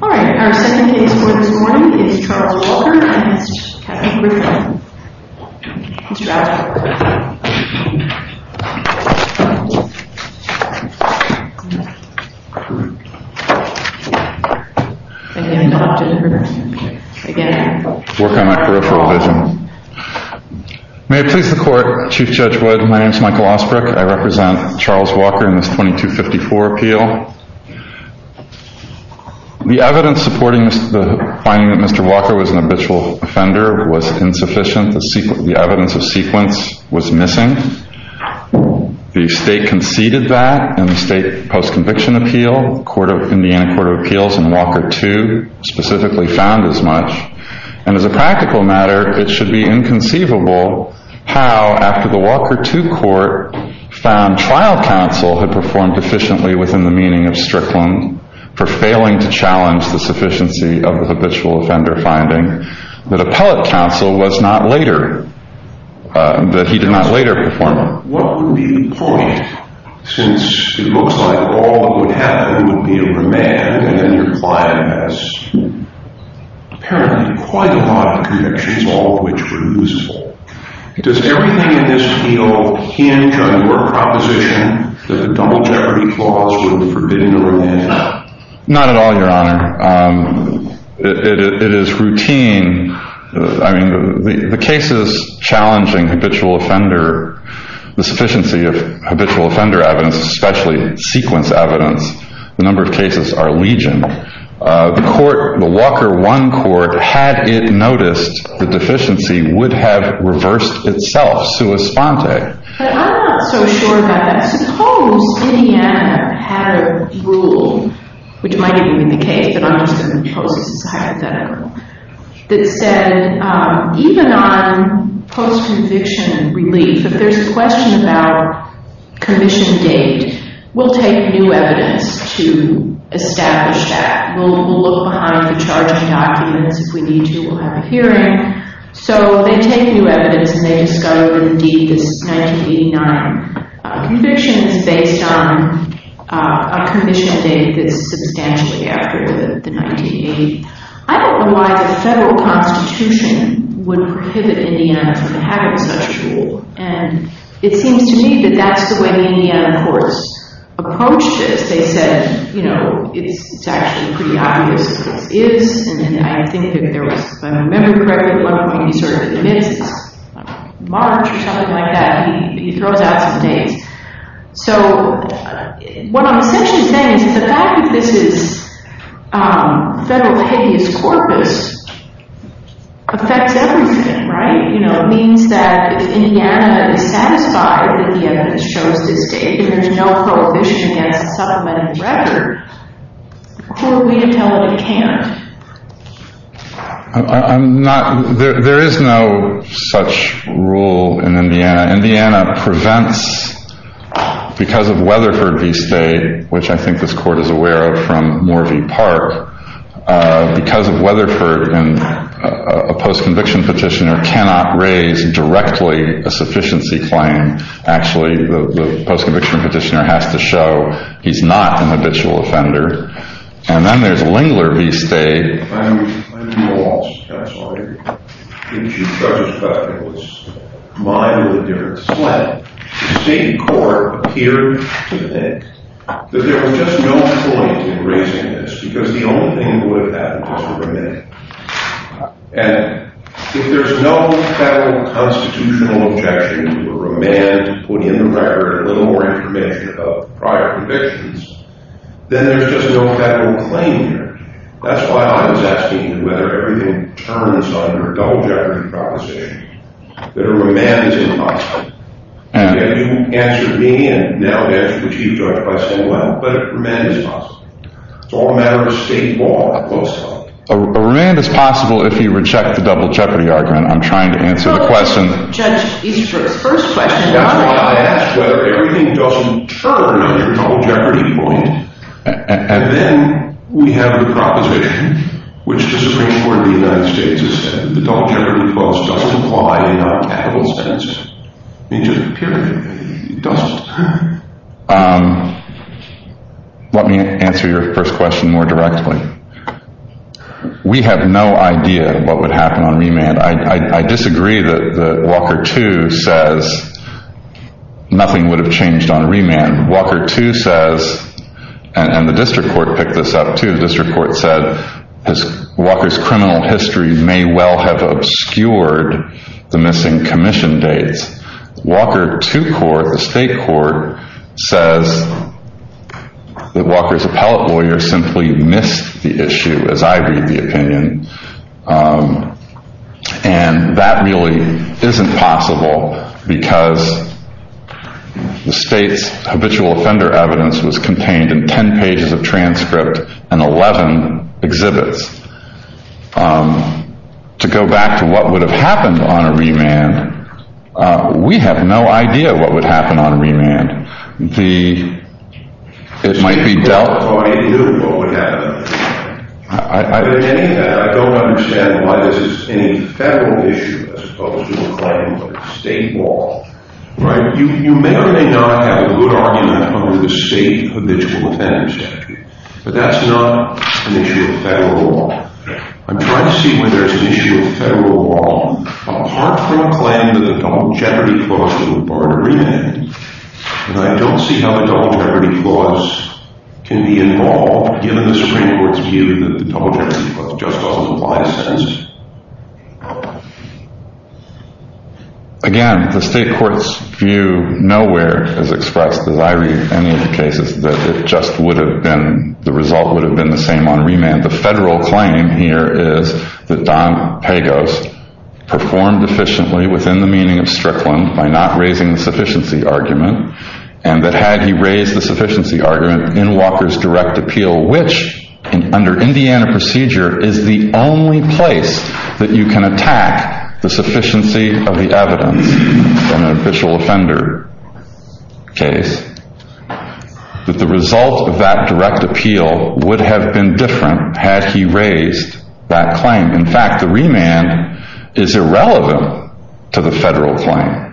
May it please the court, Chief Judge Wood, my name is Michael Osbrook, I represent Charles The evidence supporting the finding that Mr. Walker was an habitual offender was insufficient. The evidence of sequence was missing. The state conceded that in the state post-conviction appeal. The Indiana Court of Appeals in Walker 2 specifically found as much. And as a practical matter it should be inconceivable how after the Walker 2 court found trial counsel had lost the sufficiency of the habitual offender finding that appellate counsel was not later that he did not later perform. What would be the point since it looks like all that would happen would be a remand and then your client has apparently quite a lot of convictions all of which were usable. Does everything in this appeal hinge on your proposition that the Donald Jeopardy clause would forbid a remand? Not at all, Your Honor. It is routine. The cases challenging habitual offender, the sufficiency of habitual offender evidence, especially sequence evidence, the number of cases are legion. The Walker 1 court, had it noticed the deficiency would have reversed itself, sua sponte. But I'm not so sure that. But suppose Indiana had a rule, which might even be the case, but I'm assuming the process is hypothetical, that said even on post-conviction relief, if there's a question about commission date, we'll take new evidence to establish that. We'll look behind the charging documents if we need to, we'll have a hearing. So they take new evidence and they discover indeed this 1989 conviction is based on a commission date that's substantially after the 1980. I don't know why the federal constitution would prohibit Indiana from having such a rule. And it seems to me that that's the way the Indiana courts approached this. They said, you know, it's actually pretty obvious what this is, and I think that there was, if I like that, he throws out some dates. So, what I'm essentially saying is that the fact that this is federal hideous corpus affects everything, right? You know, it means that if Indiana is satisfied that the evidence shows this date, if there's no prohibition against the supplemental record, who are we to tell that it can't? I'm not, there is no such rule in Indiana. Indiana prevents because of Weatherford v. State, which I think this court is aware of from Morvie Park, because of Weatherford and a post-conviction petitioner cannot raise directly a sufficiency claim. Actually, the post-conviction petitioner has to show he's not an habitual offender. And then there's the state. I'm lost, I'm sorry, into such a speculative mind with a different slant. The state court appeared to think that there was just no point in raising this, because the only thing that would have happened was to remit it. And if there's no federal constitutional objection to a remand to put in the record a little more information about prior convictions, then there's just no federal claim here. That's why I was asking whether everything turns under a double jeopardy proposition, that a remand is impossible. You answered me, and now I'll answer what you've judged by saying well, but a remand is possible. It's all a matter of a state law, a post-conviction. A remand is possible if you reject the double jeopardy argument. I'm trying to answer the question. Judge Easter's first question. That's why I asked whether everything doesn't turn under a double jeopardy point. And then we have the proposition, which just as we saw in the United States, the double jeopardy clause doesn't apply in our capital sense. It just doesn't. Let me answer your first question more directly. We have no idea what would happen on remand. I disagree that Walker 2 says nothing would have changed on remand, and Walker 2 says, and the district court picked this up too, the district court said Walker's criminal history may well have obscured the missing commission dates. Walker 2 court, the state court, says that Walker's appellate lawyer simply missed the issue, as I read the opinion. And that really isn't possible because the state's habitual offender evidence was contained in 10 pages of transcript and 11 exhibits. To go back to what would have happened on a remand, we have no idea what would happen on a remand. It might be dealt by you, what would happen on a remand. I don't understand why this is any federal issue as opposed to a claim of state law. You may or may not have a good argument under the state habitual offender statute, but that's not an issue of federal law. I'm trying to see whether it's an issue of federal law, apart from a claim that the double jeopardy clause would require a remand. And I don't see how the double jeopardy clause can be involved, given the Supreme Court's view that the double jeopardy clause just doesn't apply to sentences. Again, the state court's view nowhere has expressed, as I read any of the cases, that it just would have been, the result would have been the same on remand. The federal claim here is that Don Pagos performed efficiently within the meaning of Strickland by not raising the sufficiency argument, and that had he raised the sufficiency argument in Walker's direct appeal, which under Indiana procedure is the only place that you can attack the sufficiency of the evidence in an official offender case, that the result of that direct appeal would have been different had he raised that claim. In fact, the remand is irrelevant to the federal claim.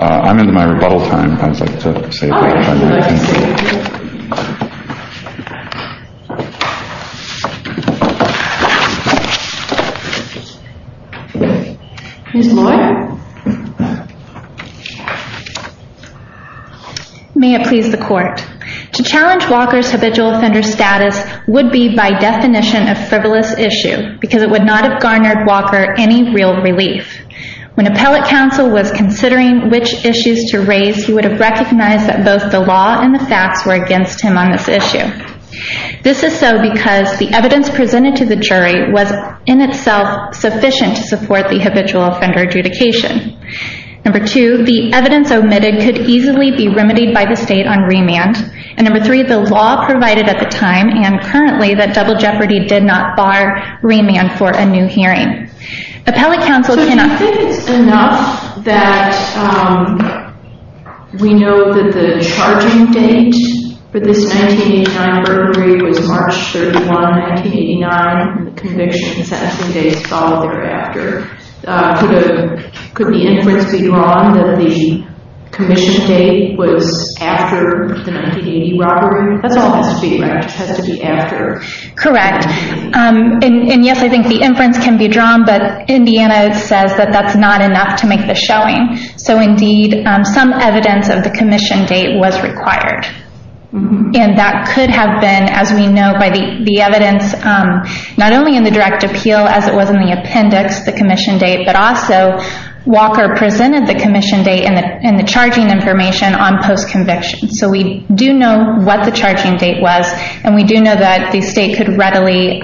I'm into my rebuttal time. I'd like to say a few things. Ms. Moore? May it please the court. To challenge Walker's habitual offender status would be by definition a frivolous issue, because it would not have garnered Walker any real relief. When appellate counsel was considering which issues to raise, he would have recognized that both the law and the facts were against him on this issue. This is so because the evidence presented to the jury was in itself sufficient to support the habitual offender adjudication. Number two, the evidence omitted could easily be remedied by the state on remand, and number three, the law provided at the time, and currently, that double jeopardy did not bar remand for a new hearing. Appellate counsel cannot... So you think it's enough that we know that the charging date for this 1989 burglary was March 31, 1989, the conviction and sentencing dates fall thereafter. Could the inference be wrong that the commission date was after the 1980 robbery? That's all that has to be after. Correct. And yes, I think the inference can be drawn, but Indiana says that that's not enough to make the showing. So indeed, some evidence of the commission date was required. And that could have been, as we know by the evidence, not only in the direct appeal as it was in the appendix, the commission date, but also Walker presented the commission date and the charging information on post-conviction. So we do know what the charging date was, and we do know that the state could readily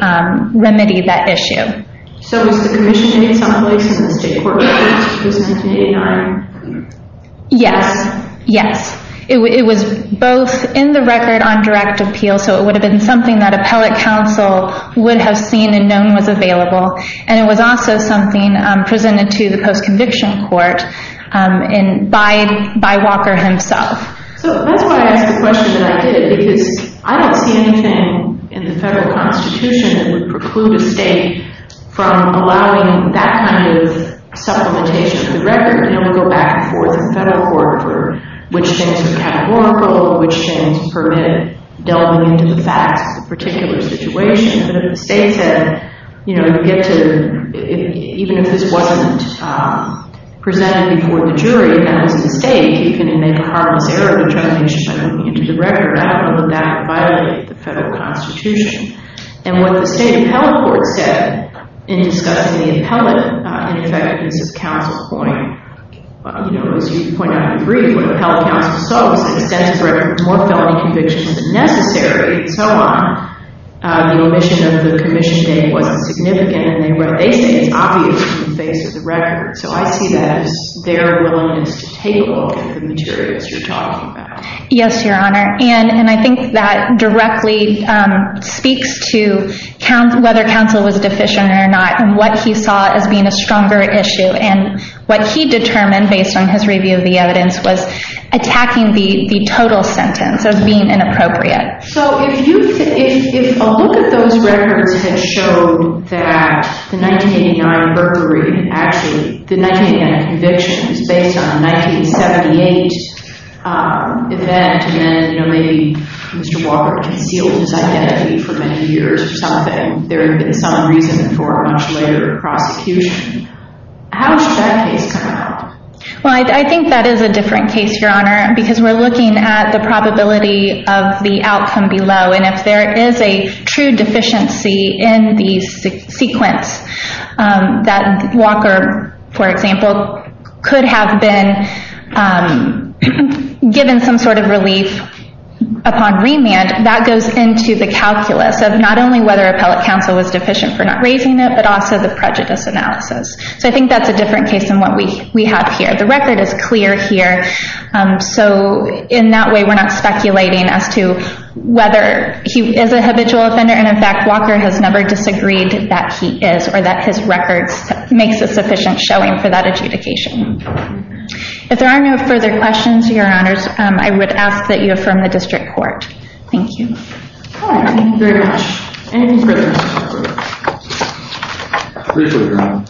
remedy that issue. So was the commission date someplace in the state court records for 1989? Yes, yes. It was both in the record on direct appeal, so it would have been something that appellate counsel would have seen and known was available, and it was also something presented to the post-conviction court by Walker himself. So that's why I asked the question that I did, because I don't see anything in the federal constitution that would preclude a state from allowing that kind of supplementation of the record, and it would go back and forth in the federal court for which things are categorical, which things permit delving into the facts of the particular situation. But if the state said, you know, you get to, even if this wasn't presented before the jury and it was the state, you're going to make a harmless error of determination by moving you into the record, I don't want to let that violate the federal constitution. And what the state appellate court said in discussing the appellate ineffectiveness of counsel's point, you know, as you point out in brief, what appellate counsel saw was an extensive record with more felony convictions than necessary, and so on. The omission of the commission date wasn't significant, and what they say is obvious in the face of the record. So I see that as their willingness to take a look at the materials you're talking about. Yes, Your Honor. And I think that directly speaks to whether counsel was deficient or not, and what he saw as being a stronger issue, and what he determined based on his review of the evidence was attacking the total sentence as being inappropriate. So if a look at those records had shown that the 1989 burglary, actually the 1989 convictions based on a 1978 event, and then maybe Mr. Walker concealed his identity for many years or something, there had been some reason for a much later prosecution, how should that case come out? Well, I think that is a different case, Your Honor, because we're looking at the probability of the outcome below, and if there is a true deficiency in the sequence, that Walker, for example, could have been given some sort of relief upon remand, that goes into the calculus of not only whether appellate counsel was deficient for not raising it, but also the prejudice analysis. So I think that's a different case than what we have here. The record is clear here, so in that way, we're not speculating as to whether he is a habitual offender, and in fact, Walker has never disagreed that he is, or that his record makes a sufficient showing for that adjudication. If there are no further questions, Your Honors, I would ask that you affirm the district court. Thank you. All right. Thank you very much. Anything further? Appreciate it, Your Honor.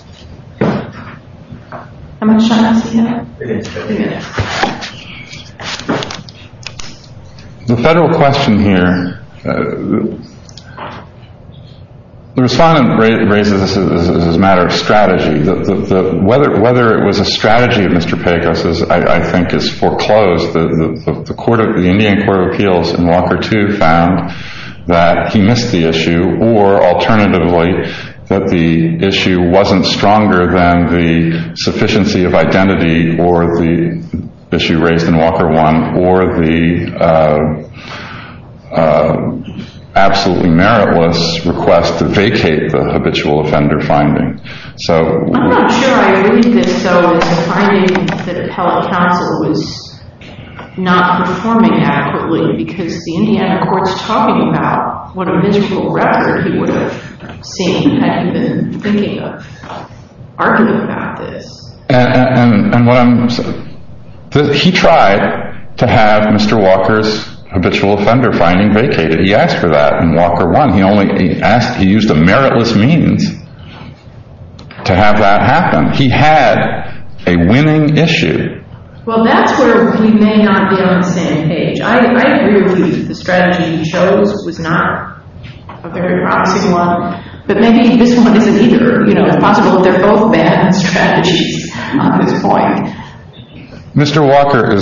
How much time do I still have? Three minutes. Three minutes. The federal question here, the respondent raises this as a matter of strategy. Whether it was a strategy of Mr. Pecos, I think is foreclosed. The Indian Court of Appeals in Walker too found that he missed the issue, or alternatively, that the issue wasn't stronger than the sufficiency of identity, or the issue raised in Walker 1, or the absolutely meritless request to vacate the habitual offender finding. I'm not sure I read this, though, as finding that appellate counsel was not performing adequately because the Indiana court is talking about what a miserable record he would have seen had he been thinking of arguing about this. He tried to have Mr. Walker's habitual offender finding vacated. He asked for that in Walker 1. He used a meritless means to have that happen. He had a winning issue. Well, that's where he may not be on the same page. I agree with you that the strategy he chose was not a very promising one, but maybe this one isn't either. It's possible that they're both bad strategies on this point. Mr. Walker,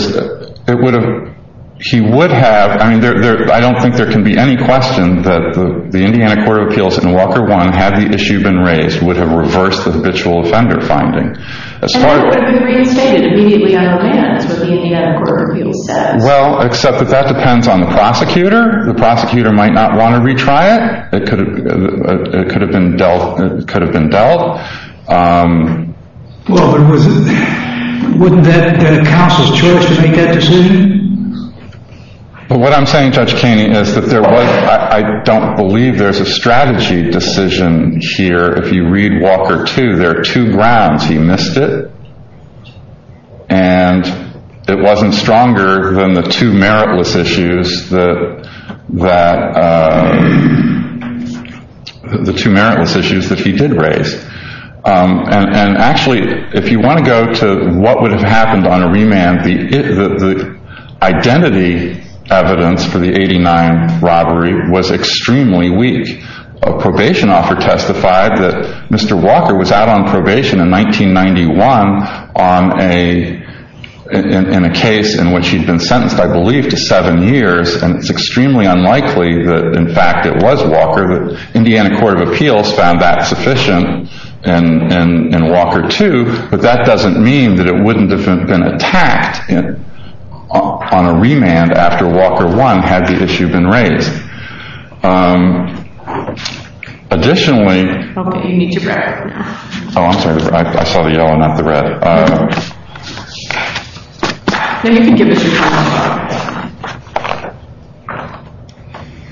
he would have. I don't think there can be any question that the Indiana Court of Appeals in Walker 1, had the issue been raised, would have reversed the habitual offender finding. And that would have been reinstated immediately on the land is what the Indiana Court of Appeals says. Well, except that that depends on the prosecutor. The prosecutor might not want to retry it. It could have been dealt. Well, wouldn't that counsel's choice make that decision? What I'm saying, Judge Kaney, is that I don't believe there's a strategy decision here. If you read Walker 2, there are two grounds. He missed it. And it wasn't stronger than the two meritless issues that he did raise. And actually, if you want to go to what would have happened on a remand, the identity evidence for the 89th robbery was extremely weak. A probation offer testified that Mr. Walker was out on probation in 1991 in a case in which he'd been sentenced, I believe, to seven years. And it's extremely unlikely that, in fact, it was Walker. The Indiana Court of Appeals found that sufficient in Walker 2. But that doesn't mean that it wouldn't have been attacked on a remand after Walker 1 had the issue been raised. Additionally, I'm sorry, I saw the yellow, not the red.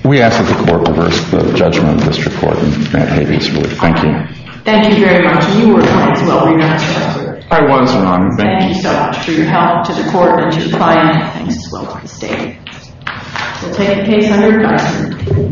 We ask that the court reverse the judgment of this recording. Thank you. Thank you very much. You were fine as well. I was wrong. Thank you so much for your help to the court and to the client. Thanks as well to the state. We'll take the case under review.